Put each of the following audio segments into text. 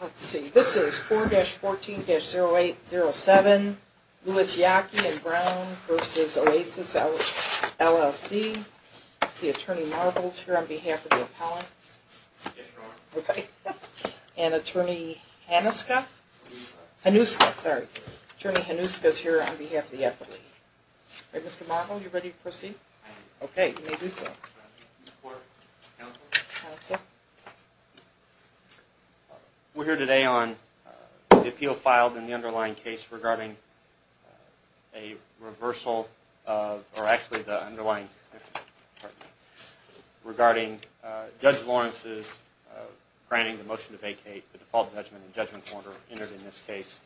Let's see, this is 4-14-0807 Lewis, Yockey and Brown v. Oasis, LLC. Let's see, Attorney Marvel is here on behalf of the appellant. Yes, Your Honor. Okay. And Attorney Hanuska? Hanuska. Hanuska, sorry. Attorney Hanuska is here on behalf of the appellant. All right, Mr. Marvel, you ready to proceed? I am. Okay, you may do so. Court, counsel. Counsel. We're here today on the appeal filed in the underlying case regarding a reversal of, or actually the underlying, regarding Judge Lawrence's granting the motion to vacate the default judgment and judgment order entered in this case.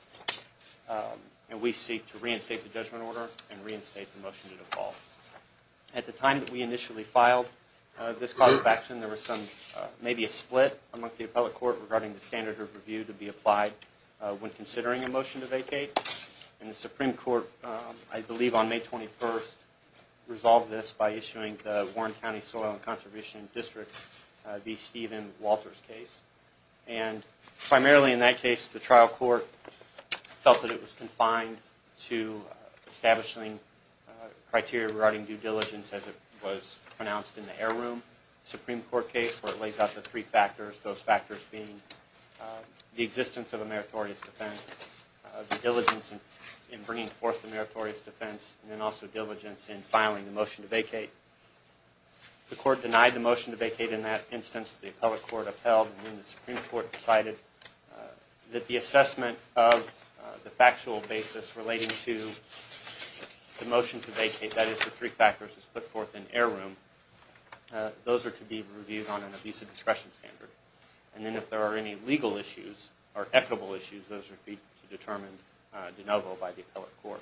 And we seek to reinstate the judgment order and reinstate the motion to default. At the time that we initially filed this cause of action, there was some, maybe a split among the appellate court regarding the standard of review to be applied when considering a motion to vacate. And the Supreme Court, I believe on May 21st, resolved this by issuing the Warren County Soil and Conservation District v. Stephen Walters case. And primarily in that case, the trial court felt that it was confined to establishing criteria regarding due diligence as it was pronounced in the heirloom Supreme Court case where it lays out the three factors, those factors being the existence of a meritorious defense, the diligence in bringing forth the meritorious defense, and then also diligence in filing the motion to vacate. The court denied the motion to vacate in that instance. The appellate court upheld, and then the Supreme Court decided that the assessment of the factual basis relating to the motion to vacate, that is the three factors as put forth in heirloom, those are to be reviewed on a visa discretion standard. And then if there are any legal issues or equitable issues, those would be determined de novo by the appellate court.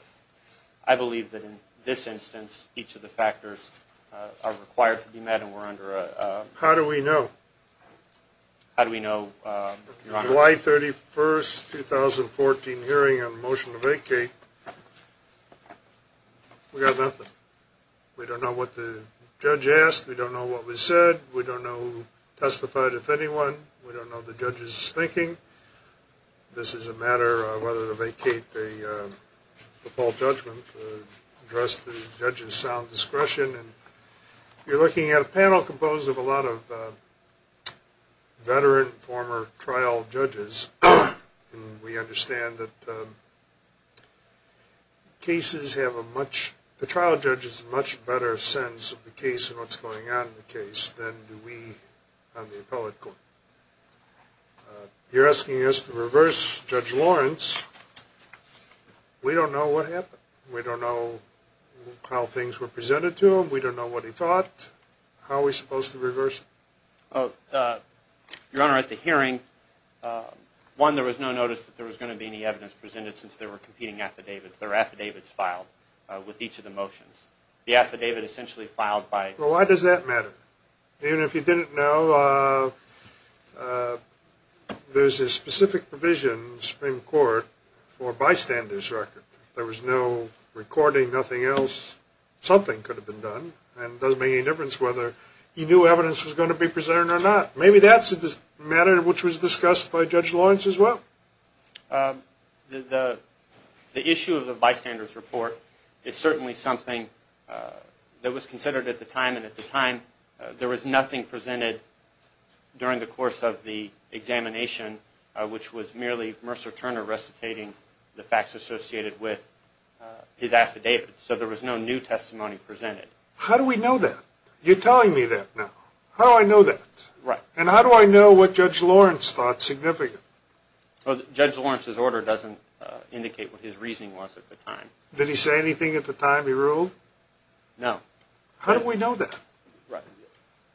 I believe that in this instance, each of the factors are required to be met and we're under a... How do we know? How do we know, Your Honor? July 31st, 2014 hearing on the motion to vacate, we got nothing. We don't know what the judge asked. We don't know what was said. We don't know who testified, if anyone. We don't know the judge's thinking. This is a matter of whether to vacate the full judgment to address the judge's sound discretion. You're looking at a panel composed of a lot of veteran, former trial judges. We understand that the trial judges have a much better sense of the case and what's going on in the case than do we on the appellate court. You're asking us to reverse Judge Lawrence. We don't know what happened. We don't know how things were presented to him. We don't know what he thought. How are we supposed to reverse him? Your Honor, at the hearing, one, there was no notice that there was going to be any evidence presented since there were competing affidavits. There were affidavits filed with each of the motions. The affidavit essentially filed by... Well, why does that matter? Even if he didn't know, there's a specific provision in the Supreme Court for a bystander's record. If there was no recording, nothing else, something could have been done, and it doesn't make any difference whether he knew evidence was going to be presented or not. Maybe that's a matter which was discussed by Judge Lawrence as well. The issue of the bystander's report is certainly something that was considered at the time, and at the time there was nothing presented during the course of the examination, which was merely Mercer Turner recitating the facts associated with his affidavit. So there was no new testimony presented. How do we know that? You're telling me that now. How do I know that? Right. And how do I know what Judge Lawrence thought significant? Judge Lawrence's order doesn't indicate what his reasoning was at the time. Did he say anything at the time he ruled? No. How do we know that? Right.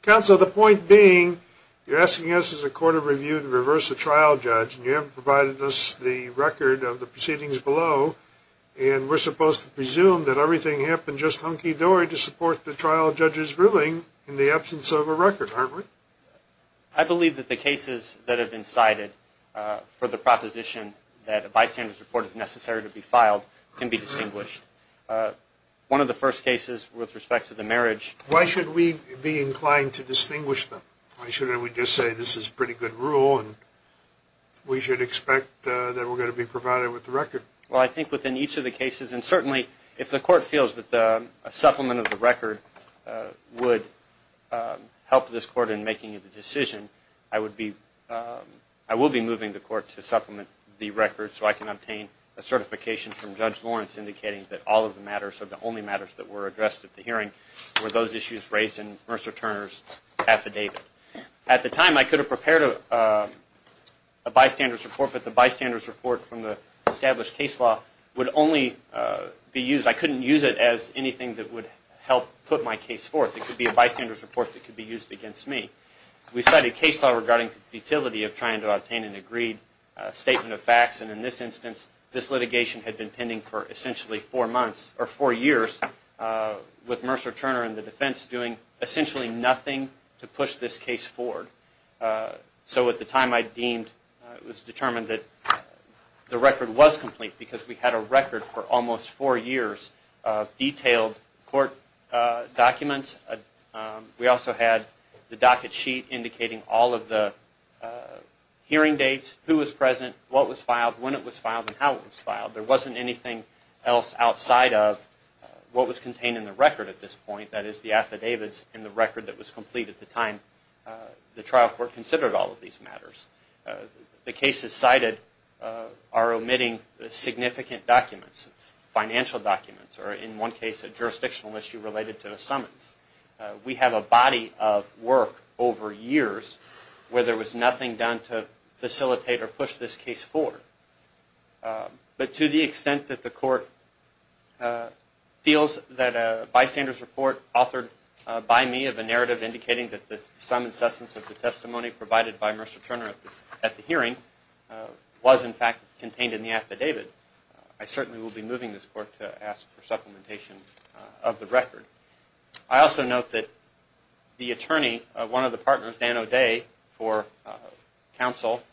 Counsel, the point being, you're asking us as a court of review to reverse a trial judge, and you haven't provided us the record of the proceedings below, and we're supposed to presume that everything happened just hunky-dory to support the trial judge's ruling in the absence of a record, aren't we? I believe that the cases that have been cited for the proposition that a bystander's report is necessary to be filed can be distinguished. One of the first cases with respect to the marriage. Why should we be inclined to distinguish them? Why shouldn't we just say this is pretty good rule and we should expect that we're going to be provided with the record? Well, I think within each of the cases, and certainly if the court feels that a supplement of the record would help this court in making the decision, I will be moving the court to supplement the record so I can obtain a certification from Judge Lawrence indicating that all of the matters or the only matters that were addressed at the hearing were those issues raised in Mercer Turner's affidavit. The bystander's report from the established case law would only be used, I couldn't use it as anything that would help put my case forth. It could be a bystander's report that could be used against me. We cited case law regarding the futility of trying to obtain an agreed statement of facts, and in this instance, this litigation had been pending for essentially four months, or four years, with Mercer Turner and the defense doing essentially nothing to push this case forward. So at the time I deemed, it was determined that the record was complete, because we had a record for almost four years of detailed court documents. We also had the docket sheet indicating all of the hearing dates, who was present, what was filed, when it was filed, and how it was filed. There wasn't anything else outside of what was contained in the record at this point, that is the affidavits and the record that was complete at the time the trial court considered all of these matters. The cases cited are omitting significant documents, financial documents, or in one case a jurisdictional issue related to a summons. We have a body of work over years where there was nothing done to facilitate or push this case forward. But to the extent that the court feels that a bystander's report authored by me of a narrative indicating that the sum and substance of the testimony provided by Mercer Turner at the hearing was in fact contained in the affidavit, I certainly will be moving this court to ask for supplementation of the record. I also note that the attorney, one of the partners, Dan O'Day for counsel,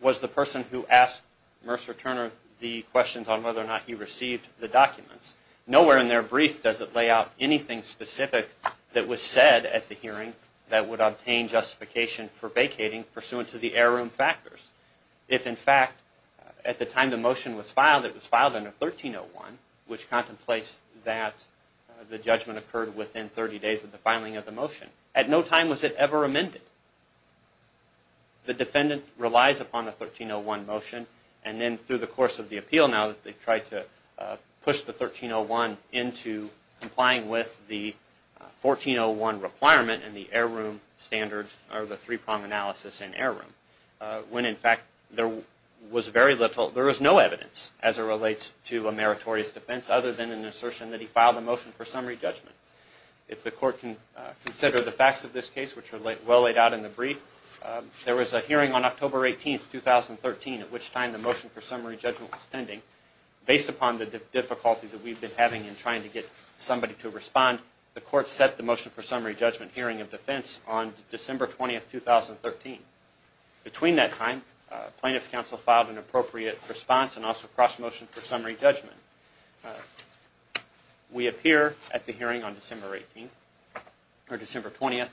was the person who asked Mercer Turner the questions on whether or not he received the documents. Nowhere in their brief does it lay out anything specific that was said at the hearing that would obtain justification for vacating pursuant to the heirloom factors. If in fact at the time the motion was filed, it was filed under 1301, which contemplates that the judgment occurred within 30 days of the filing of the motion. At no time was it ever amended. The defendant relies upon the 1301 motion and then through the course of the appeal now that they've tried to push the 1301 into complying with the 1401 requirement and the heirloom standards or the three-prong analysis in heirloom, when in fact there was very little, there was no evidence as it relates to a meritorious defense other than an assertion that he filed a motion for summary judgment. If the court can consider the facts of this case, which are well laid out in the brief, there was a hearing on October 18, 2013, at which time the motion for summary judgment was pending. Based upon the difficulties that we've been having in trying to get somebody to respond, the court set the motion for summary judgment hearing of defense on December 20, 2013. Between that time, plaintiff's counsel filed an appropriate response and also crossed motion for summary judgment. We appear at the hearing on December 20.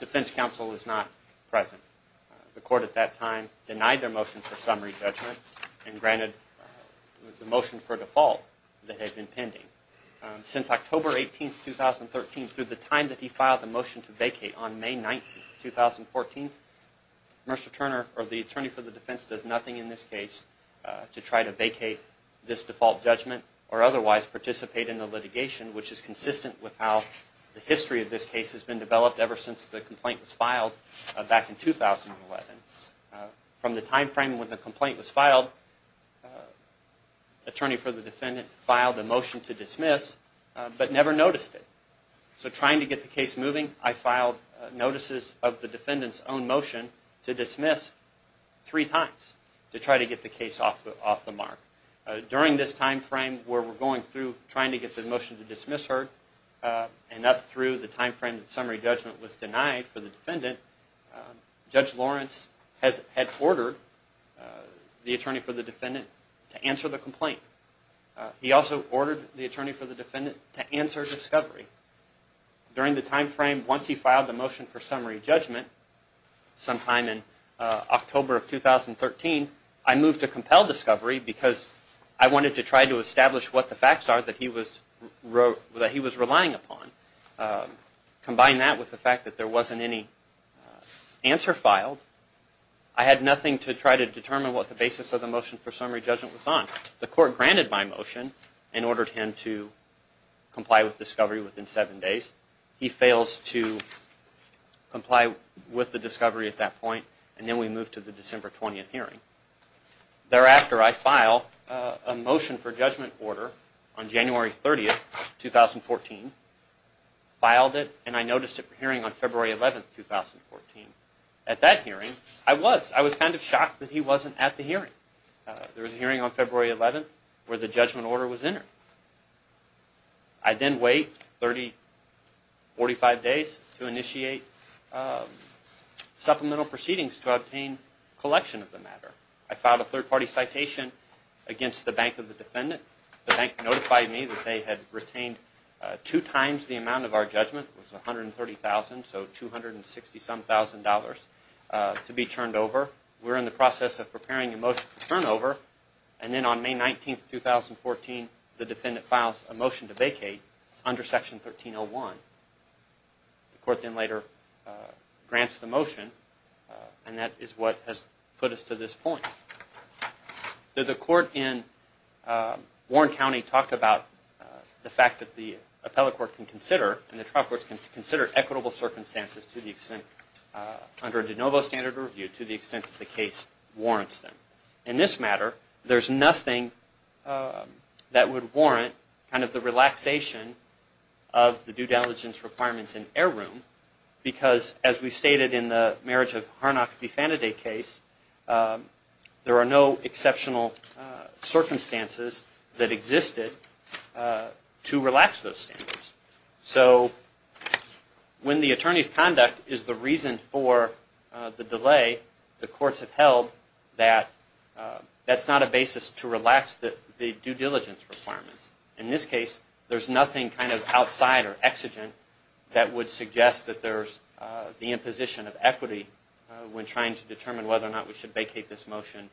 Defense counsel is not present. The court at that time denied their motion for summary judgment and granted the motion for default that had been pending. Since October 18, 2013, through the time that he filed the motion to vacate on May 9, 2014, the attorney for the defense does nothing in this case to try to vacate this default judgment or otherwise participate in the litigation, which is consistent with how the history of this case has been developed ever since the complaint was filed back in 2011. From the time frame when the complaint was filed, attorney for the defendant filed a motion to dismiss but never noticed it. So trying to get the case moving, I filed notices of the defendant's own motion to dismiss three times to try to get the case off the mark. During this time frame where we're going through trying to get the motion to dismiss heard and up through the time frame that summary judgment was denied for the defendant, Judge Lawrence had ordered the attorney for the defendant to answer the complaint. He also ordered the attorney for the defendant to answer discovery. During the time frame once he filed the motion for summary judgment sometime in October of 2013, I moved to compel discovery because I wanted to try to establish what the facts are that he was relying upon. Combine that with the fact that there wasn't any answer filed, I had nothing to try to determine what the basis of the motion for summary judgment was on. The court granted my motion and ordered him to comply with discovery within seven days. He fails to comply with the discovery at that point, and then we move to the December 20th hearing. Thereafter, I file a motion for judgment order on January 30th, 2014, filed it, and I noticed it for hearing on February 11th, 2014. At that hearing, I was kind of shocked that he wasn't at the hearing. There was a hearing on February 11th where the judgment order was entered. I then wait 30, 45 days to initiate supplemental proceedings to obtain collection of the matter. I filed a third-party citation against the bank of the defendant. The bank notified me that they had retained two times the amount of our judgment, it was $130,000, so $267,000 to be turned over. We're in the process of preparing a motion for turnover, and then on May 19th, 2014, the defendant files a motion to vacate under Section 1301. The court then later grants the motion, and that is what has put us to this point. The court in Warren County talked about the fact that the appellate court can consider, and the trial court can consider equitable circumstances under de novo standard review to the extent that the case warrants them. In this matter, there's nothing that would warrant kind of the relaxation of the due diligence requirements in heirloom because, as we stated in the marriage of Harnock v. Fanaday case, there are no exceptional circumstances that existed to relax those standards. So when the attorney's conduct is the reason for the delay, the courts have held that that's not a basis to relax the due diligence requirements. In this case, there's nothing kind of outside or exigent that would suggest that there's the imposition of equity when trying to determine whether or not we should vacate this motion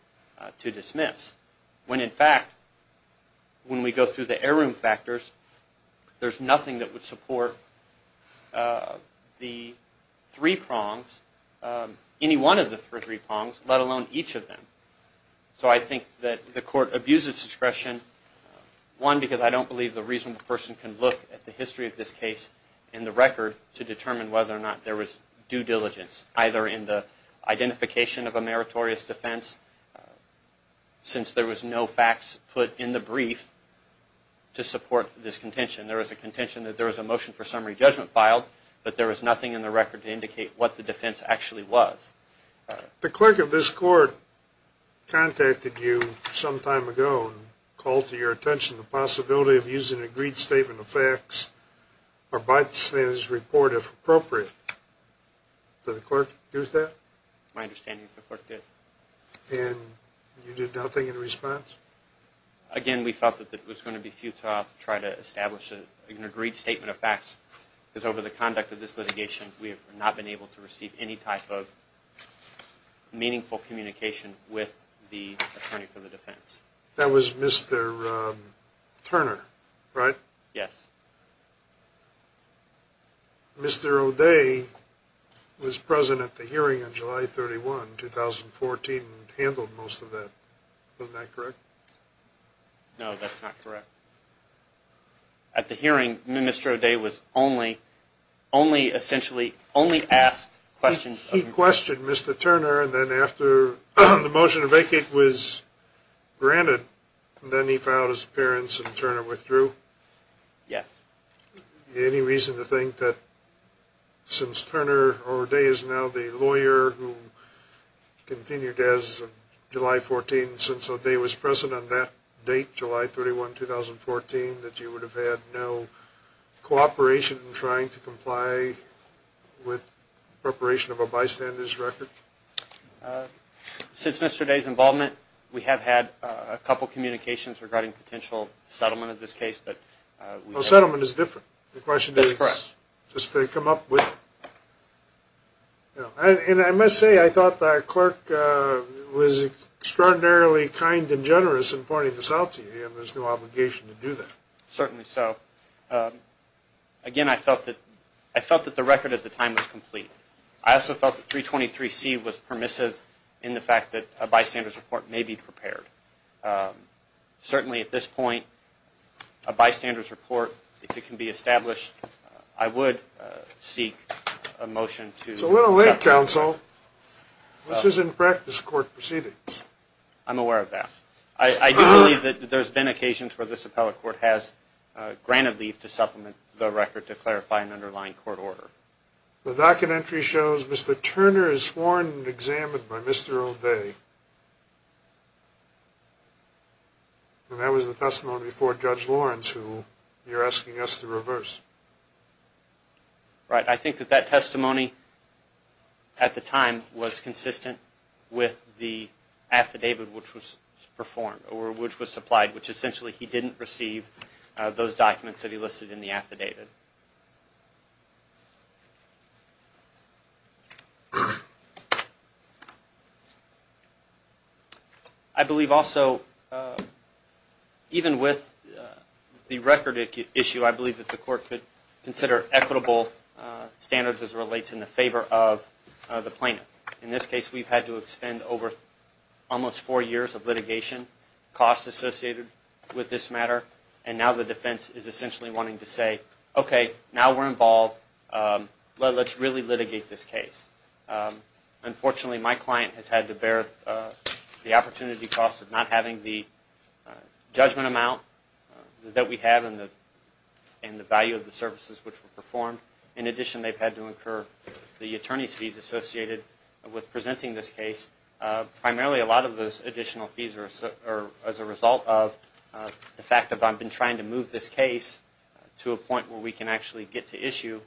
to dismiss. When, in fact, when we go through the heirloom factors, there's nothing that would support the three prongs, any one of the three prongs, let alone each of them. So I think that the court abused its discretion, one, because I don't believe the reasonable person can look at the history of this case and the record to determine whether or not there was due diligence, either in the identification of a meritorious defense, since there was no facts put in the brief to support this contention. There was a contention that there was a motion for summary judgment filed, but there was nothing in the record to indicate what the defense actually was. The clerk of this court contacted you some time ago and called to your attention the possibility of using an agreed statement of facts or bystanders report, if appropriate. Did the clerk do that? My understanding is the clerk did. And you did nothing in response? Again, we felt that it was going to be futile to try to establish an agreed statement of facts, because over the conduct of this litigation, we have not been able to receive any type of meaningful communication with the attorney for the defense. That was Mr. Turner, right? Yes. Mr. O'Day was present at the hearing on July 31, 2014, and handled most of that. Wasn't that correct? No, that's not correct. At the hearing, Mr. O'Day was only essentially asked questions. He questioned Mr. Turner, and then after the motion to vacate was granted, then he filed his appearance and Turner withdrew? Yes. Any reason to think that since Turner O'Day is now the lawyer who continued as of July 14, since O'Day was present on that date, July 31, 2014, that you would have had no cooperation in trying to comply with preparation of a bystander's record? Since Mr. O'Day's involvement, we have had a couple of communications regarding potential settlement of this case. Well, settlement is different. That's correct. The question is, does they come up with it? And I must say, I thought the clerk was extraordinarily kind and generous in pointing this out to you, and there's no obligation to do that. Certainly so. Again, I felt that the record at the time was complete. I also felt that 323C was permissive in the fact that a bystander's report may be prepared. Certainly at this point, a bystander's report, if it can be established, I would seek a motion to accept it. It's a little late, counsel. This is in practice court proceedings. I'm aware of that. I do believe that there's been occasions where this appellate court has granted leave to supplement the record to clarify an underlying court order. The documentary shows Mr. Turner is sworn and examined by Mr. O'Day. And that was the testimony before Judge Lawrence, who you're asking us to reverse. Right. I think that that testimony at the time was consistent with the affidavit which was performed or which was supplied, which essentially he didn't receive those documents that he listed in the affidavit. I believe also, even with the record issue, I believe that the court could consider equitable standards as it relates in the favor of the plaintiff. In this case, we've had to expend over almost four years of litigation, costs associated with this matter, and now the defense is essentially wanting to say, okay, we're going to have to do this again. Okay, now we're involved. Let's really litigate this case. Unfortunately, my client has had to bear the opportunity cost of not having the judgment amount that we have and the value of the services which were performed. In addition, they've had to incur the attorney's fees associated with presenting this case. Primarily, a lot of those additional fees are as a result of the fact that I've been trying to move this case to a point where we can actually get to issue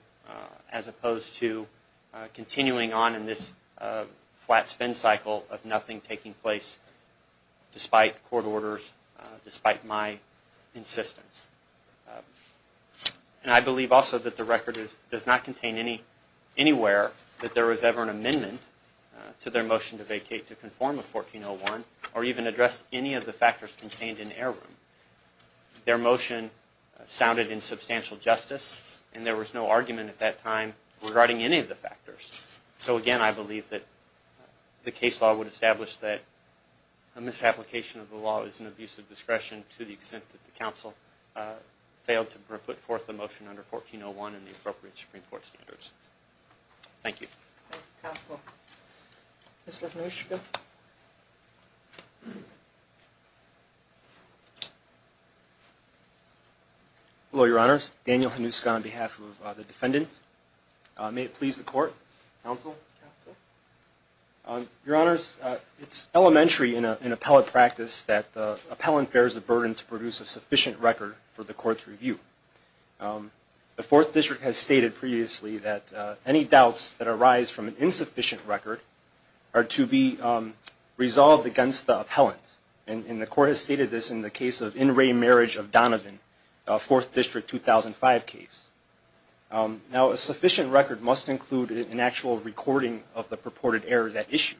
as opposed to continuing on in this flat spin cycle of nothing taking place despite court orders, despite my insistence. And I believe also that the record does not contain anywhere that there was ever an amendment to their motion to vacate to conform with 1401 or even address any of the factors contained in heirloom. Their motion sounded in substantial justice, and there was no argument at that time regarding any of the factors. So again, I believe that the case law would establish that a misapplication of the law is an abuse of discretion to the extent that the counsel failed to put forth the motion under 1401 and the appropriate Supreme Court standards. Thank you. Thank you, Counsel. Mr. Hanuska. Hello, Your Honors. Daniel Hanuska on behalf of the defendant. May it please the Court, Counsel, Counsel. Your Honors, it's elementary in appellate practice that the appellant bears the burden to produce a sufficient record for the Court's review. The Fourth District has stated previously that any doubts that arise from an insufficient record are to be resolved against the appellant. And the Court has stated this in the case of In Re Marriage of Donovan, Fourth District 2005 case. Now, a sufficient record must include an actual recording of the purported errors at issue.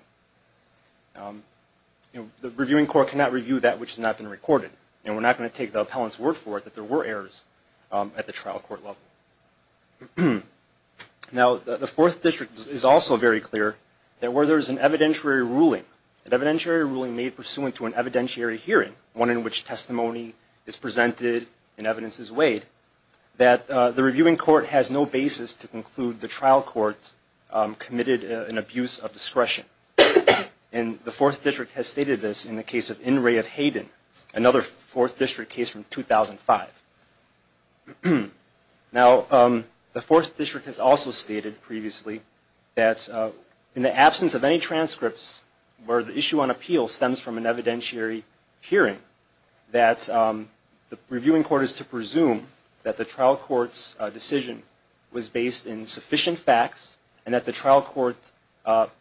The Reviewing Court cannot review that which has not been recorded. And we're not going to take the appellant's word for it that there were errors at the trial court level. Now, the Fourth District is also very clear that where there is an evidentiary ruling, an evidentiary ruling made pursuant to an evidentiary hearing, one in which testimony is presented and evidence is weighed, that the Reviewing Court has no basis to conclude the trial court committed an abuse of discretion. And the Fourth District has stated this in the case of In Re of Hayden, another Fourth District case from 2005. Now, the Fourth District has also stated previously that in the absence of any transcripts where the issue on appeal stems from an evidentiary hearing, that the Reviewing Court is to presume that the trial court's decision was based in sufficient facts and that the trial court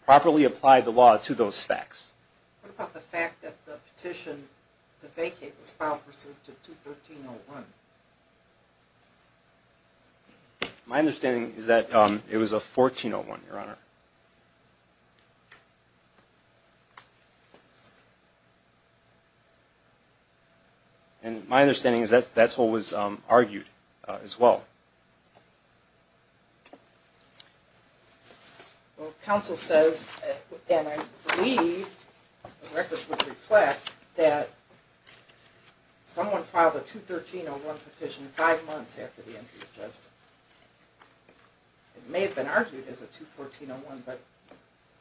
properly applied the law to those facts. What about the fact that the petition to vacate was filed pursuant to 213.01? My understanding is that it was a 14.01, Your Honor. And my understanding is that that's what was argued as well. Well, counsel says, and I believe the records would reflect, that someone filed a 213.01 petition five months after the entry of judgment. It may have been argued as a 214.01, but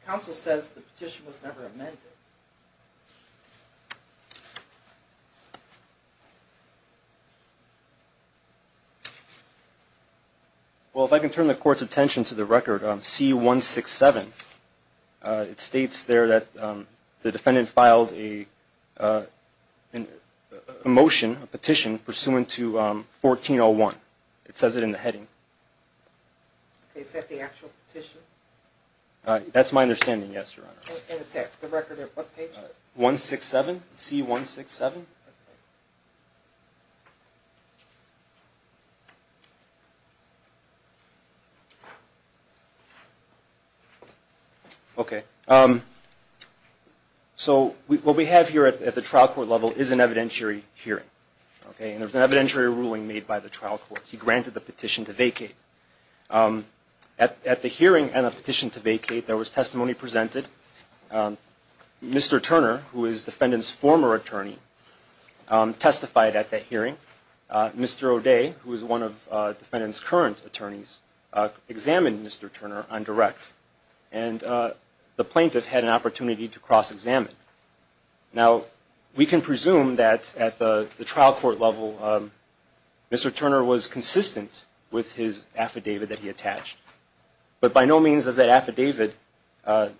counsel says the petition was never amended. Well, if I can turn the Court's attention to the record on C-167, it states there that the defendant filed a motion, a petition, pursuant to 14.01. It says it in the heading. Is that the actual petition? That's my understanding, yes, Your Honor. And it's at the record at what page? C-167. So what we have here at the trial court level is an evidentiary hearing. And there's an evidentiary ruling made by the trial court. He granted the petition to vacate. At the hearing and the petition to vacate, there was testimony presented. Mr. Turner, who is the defendant's former attorney, testified at that hearing. Mr. O'Day, who is one of the defendant's current attorneys, examined Mr. Turner on direct. And the plaintiff had an opportunity to cross-examine. Now, we can presume that at the trial court level, Mr. Turner was consistent with his affidavit that he attached. But by no means is that affidavit an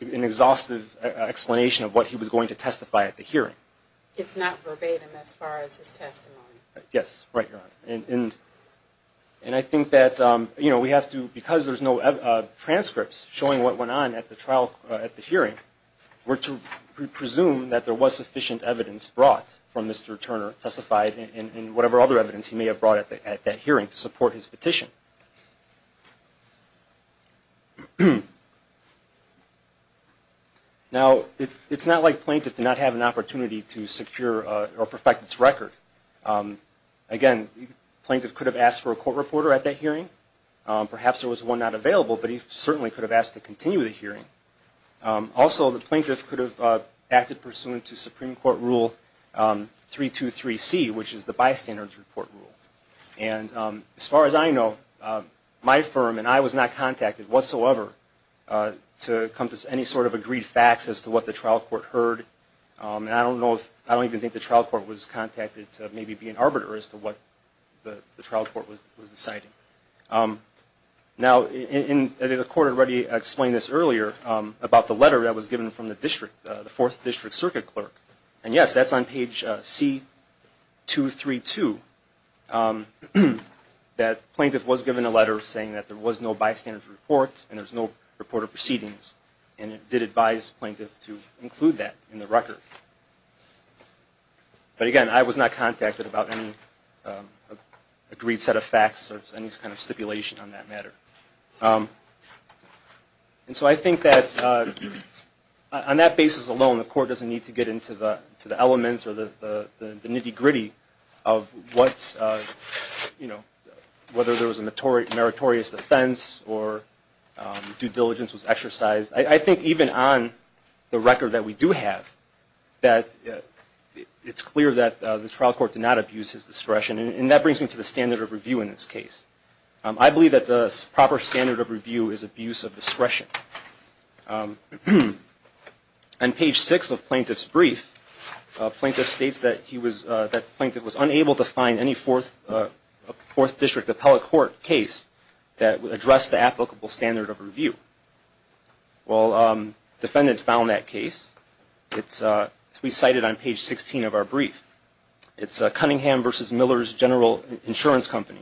exhaustive explanation of what he was going to testify at the hearing. It's not verbatim as far as his testimony. Yes, right, Your Honor. And I think that we have to, because there's no transcripts showing what went on at the hearing, we're to presume that there was sufficient evidence brought from Mr. Turner, testified in whatever other evidence he may have brought at that hearing to support his petition. Now, it's not like the plaintiff did not have an opportunity to secure or perfect its record. Again, the plaintiff could have asked for a court reporter at that hearing. Perhaps there was one not available, but he certainly could have asked to continue the hearing. Also, the plaintiff could have acted pursuant to Supreme Court Rule 323C, which is the Bystanders Report Rule. And as far as I know, my firm and I was not contacted whatsoever to come to any sort of agreed facts as to what the trial court heard. I don't even think the trial court was contacted to maybe be an arbiter as to what the trial court was deciding. Now, the court already explained this earlier about the letter that was given from the district, the 4th District Circuit Clerk. And yes, that's on page C232, that the plaintiff was given a letter saying that there was no bystanders report and there was no reporter proceedings, and it did advise the plaintiff to include that in the record. But again, I was not contacted about any agreed set of facts or any kind of stipulation on that matter. And so I think that on that basis alone, the court doesn't need to get into the elements or the nitty-gritty of what, you know, whether there was a meritorious defense or due diligence was exercised. I think even on the record that we do have, that it's clear that the trial court did not abuse his discretion. And that brings me to the standard of review in this case. I believe that the proper standard of review is abuse of discretion. On page 6 of the plaintiff's brief, the plaintiff states that he was, that the plaintiff was unable to find any 4th District appellate court case that addressed the applicable standard of review. Well, the defendant found that case. It's recited on page 16 of our brief. It's Cunningham v. Miller's General Insurance Company.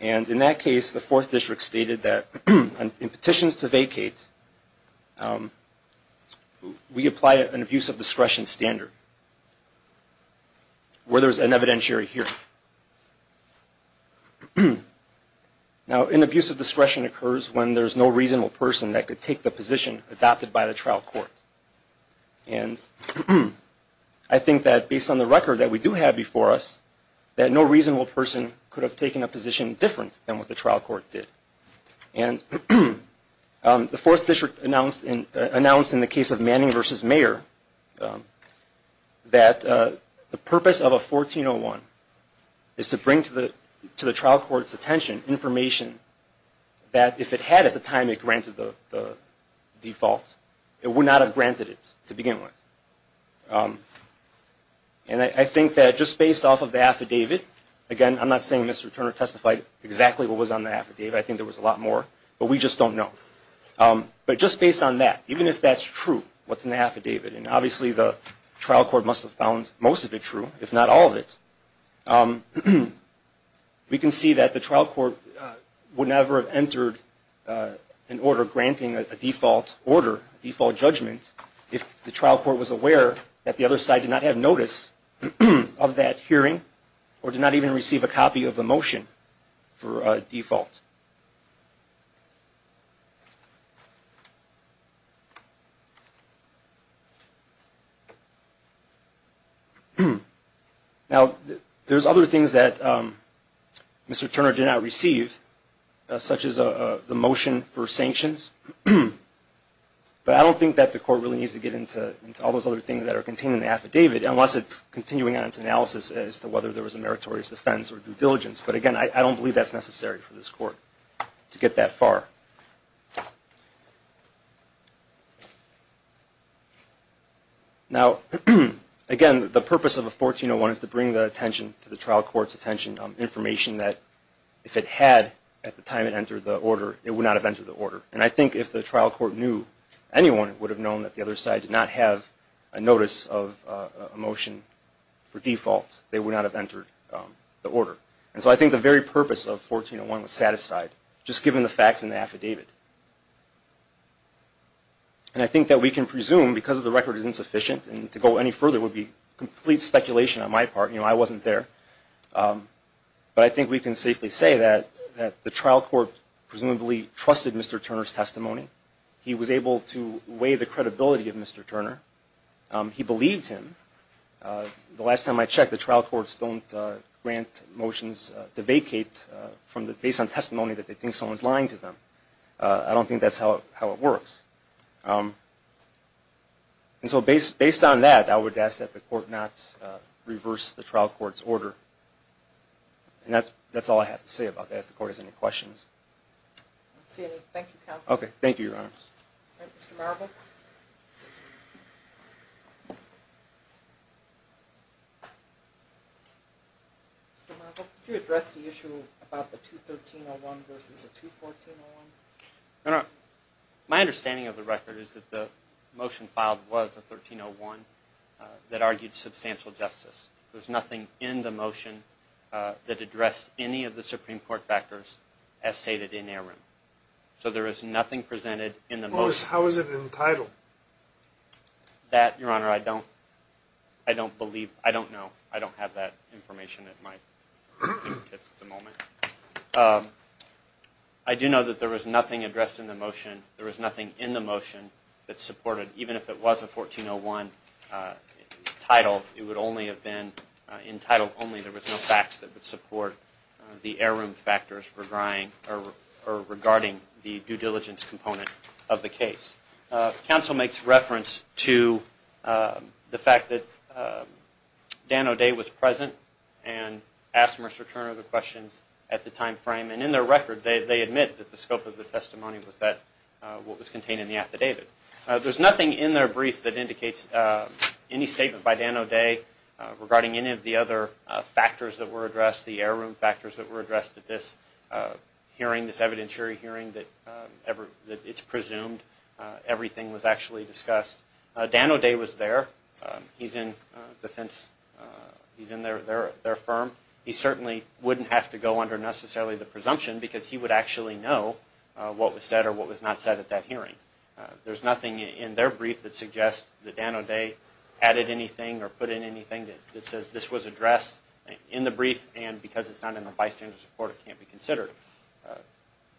And in that case, the 4th District stated that in petitions to vacate, we apply an abuse of discretion standard where there's an evidentiary hearing. Now, an abuse of discretion occurs when there's no reasonable person that could take the position adopted by the trial court. And I think that based on the record that we do have before us, that no reasonable person could have taken a position different than what the trial court did. And the 4th District announced in the case of Manning v. Mayer that the purpose of a 1401 is to bring to the trial court's attention information that if it had at the time it granted the default, it would not have granted it to begin with. And I think that just based off of the affidavit, again, I'm not saying Mr. Turner testified exactly what was on the affidavit. I think there was a lot more, but we just don't know. But just based on that, even if that's true, what's in the affidavit, and obviously the trial court must have found most of it true, if not all of it, we can see that the trial court would never have entered an order granting a default order, a default judgment, if the trial court was aware that the other side did not have notice of that hearing or did not even receive a copy of the motion for default. Now, there's other things that Mr. Turner did not receive, such as the motion for sanctions. But I don't think that the court really needs to get into all those other things that are contained in the affidavit, unless it's continuing on its analysis as to whether there was a meritorious defense or due diligence. But again, I don't believe that's necessary for this court. To get that far. Now, again, the purpose of a 1401 is to bring the attention to the trial court's attention, information that if it had at the time it entered the order, it would not have entered the order. And I think if the trial court knew anyone, it would have known that the other side did not have a notice of a motion for default. They would not have entered the order. And so I think the very purpose of 1401 was satisfied, just given the facts in the affidavit. And I think that we can presume, because the record is insufficient, and to go any further would be complete speculation on my part, you know, I wasn't there. But I think we can safely say that the trial court presumably trusted Mr. Turner's testimony. He was able to weigh the credibility of Mr. Turner. He believed him. The last time I checked, the trial courts don't grant motions to vacate based on testimony that they think someone's lying to them. I don't think that's how it works. And so based on that, I would ask that the court not reverse the trial court's order. And that's all I have to say about that, if the court has any questions. I don't see any. Thank you, counsel. Okay. Thank you, Your Honors. All right. Mr. Marble? Mr. Marble, could you address the issue about the 213-01 versus the 214-01? No, no. My understanding of the record is that the motion filed was a 1301 that argued substantial justice. There's nothing in the motion that addressed any of the Supreme Court factors as stated in Aram. So there is nothing presented in the motion. How is it entitled? That, Your Honor, I don't believe – I don't know. I don't have that information at my fingertips at the moment. I do know that there was nothing addressed in the motion. There was nothing in the motion that supported – even if it was a 1401 title, it would only have been entitled only. There was no facts that would support the Aram factors regarding the due diligence component of the case. Counsel makes reference to the fact that Dan O'Day was present and asked Mr. Turner the questions at the time frame. And in their record, they admit that the scope of the testimony was what was contained in the affidavit. There's nothing in their brief that indicates any statement by Dan O'Day regarding any of the other factors that were addressed, the Aram factors that were addressed at this hearing, this evidentiary hearing, that it's presumed everything was actually discussed. Dan O'Day was there. He's in defense. He's in their firm. He certainly wouldn't have to go under necessarily the presumption because he would actually know what was said or what was not said at that hearing. There's nothing in their brief that suggests that Dan O'Day added anything or put in anything that says this was addressed in the brief and because it's not in the bystander's report, it can't be considered.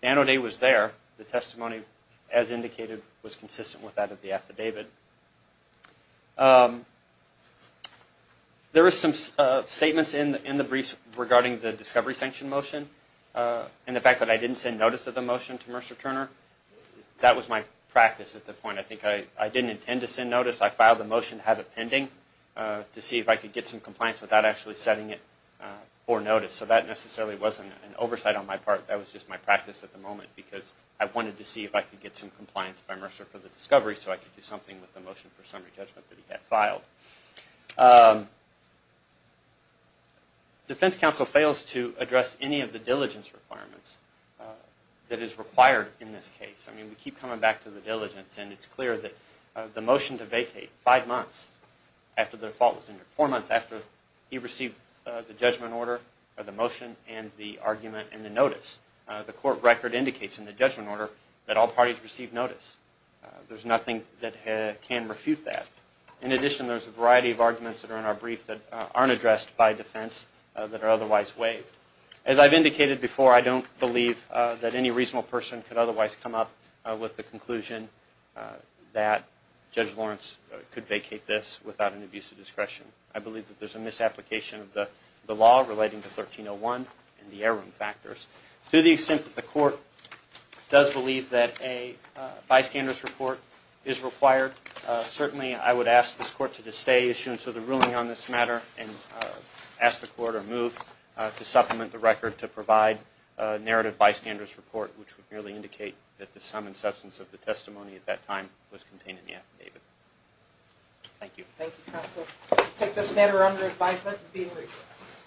Dan O'Day was there. The testimony, as indicated, was consistent with that of the affidavit. There were some statements in the brief regarding the discovery sanction motion and the fact that I didn't send notice of the motion to Mr. Turner. That was my practice at the point. I think I didn't intend to send notice. I filed the motion to have it pending to see if I could get some compliance without actually sending it for notice. So that necessarily wasn't an oversight on my part. That was just my practice at the moment because I wanted to see if I could get some compliance by Mercer for the discovery so I could do something with the motion for summary judgment that he had filed. Defense counsel fails to address any of the diligence requirements that is required in this case. I mean, we keep coming back to the diligence and it's clear that the motion to vacate five months after the default was entered, four months after he received the judgment order, the motion and the argument and the notice, the court record indicates in the judgment order that all parties received notice. There's nothing that can refute that. In addition, there's a variety of arguments that are in our brief that aren't addressed by defense that are otherwise waived. As I've indicated before, I don't believe that any reasonable person could otherwise come up with the conclusion that Judge Lawrence could vacate this without an abuse of discretion. I believe that there's a misapplication of the law relating to 1301 and the error factors. To the extent that the court does believe that a bystander's report is required, certainly I would ask this court to disdain issuance of the ruling on this matter and ask the court or move to supplement the record to provide a narrative bystander's report which would merely indicate that the sum and substance of the testimony at that time was contained in the affidavit. Thank you. Thank you, counsel. We'll take this matter under advisement and be in recess.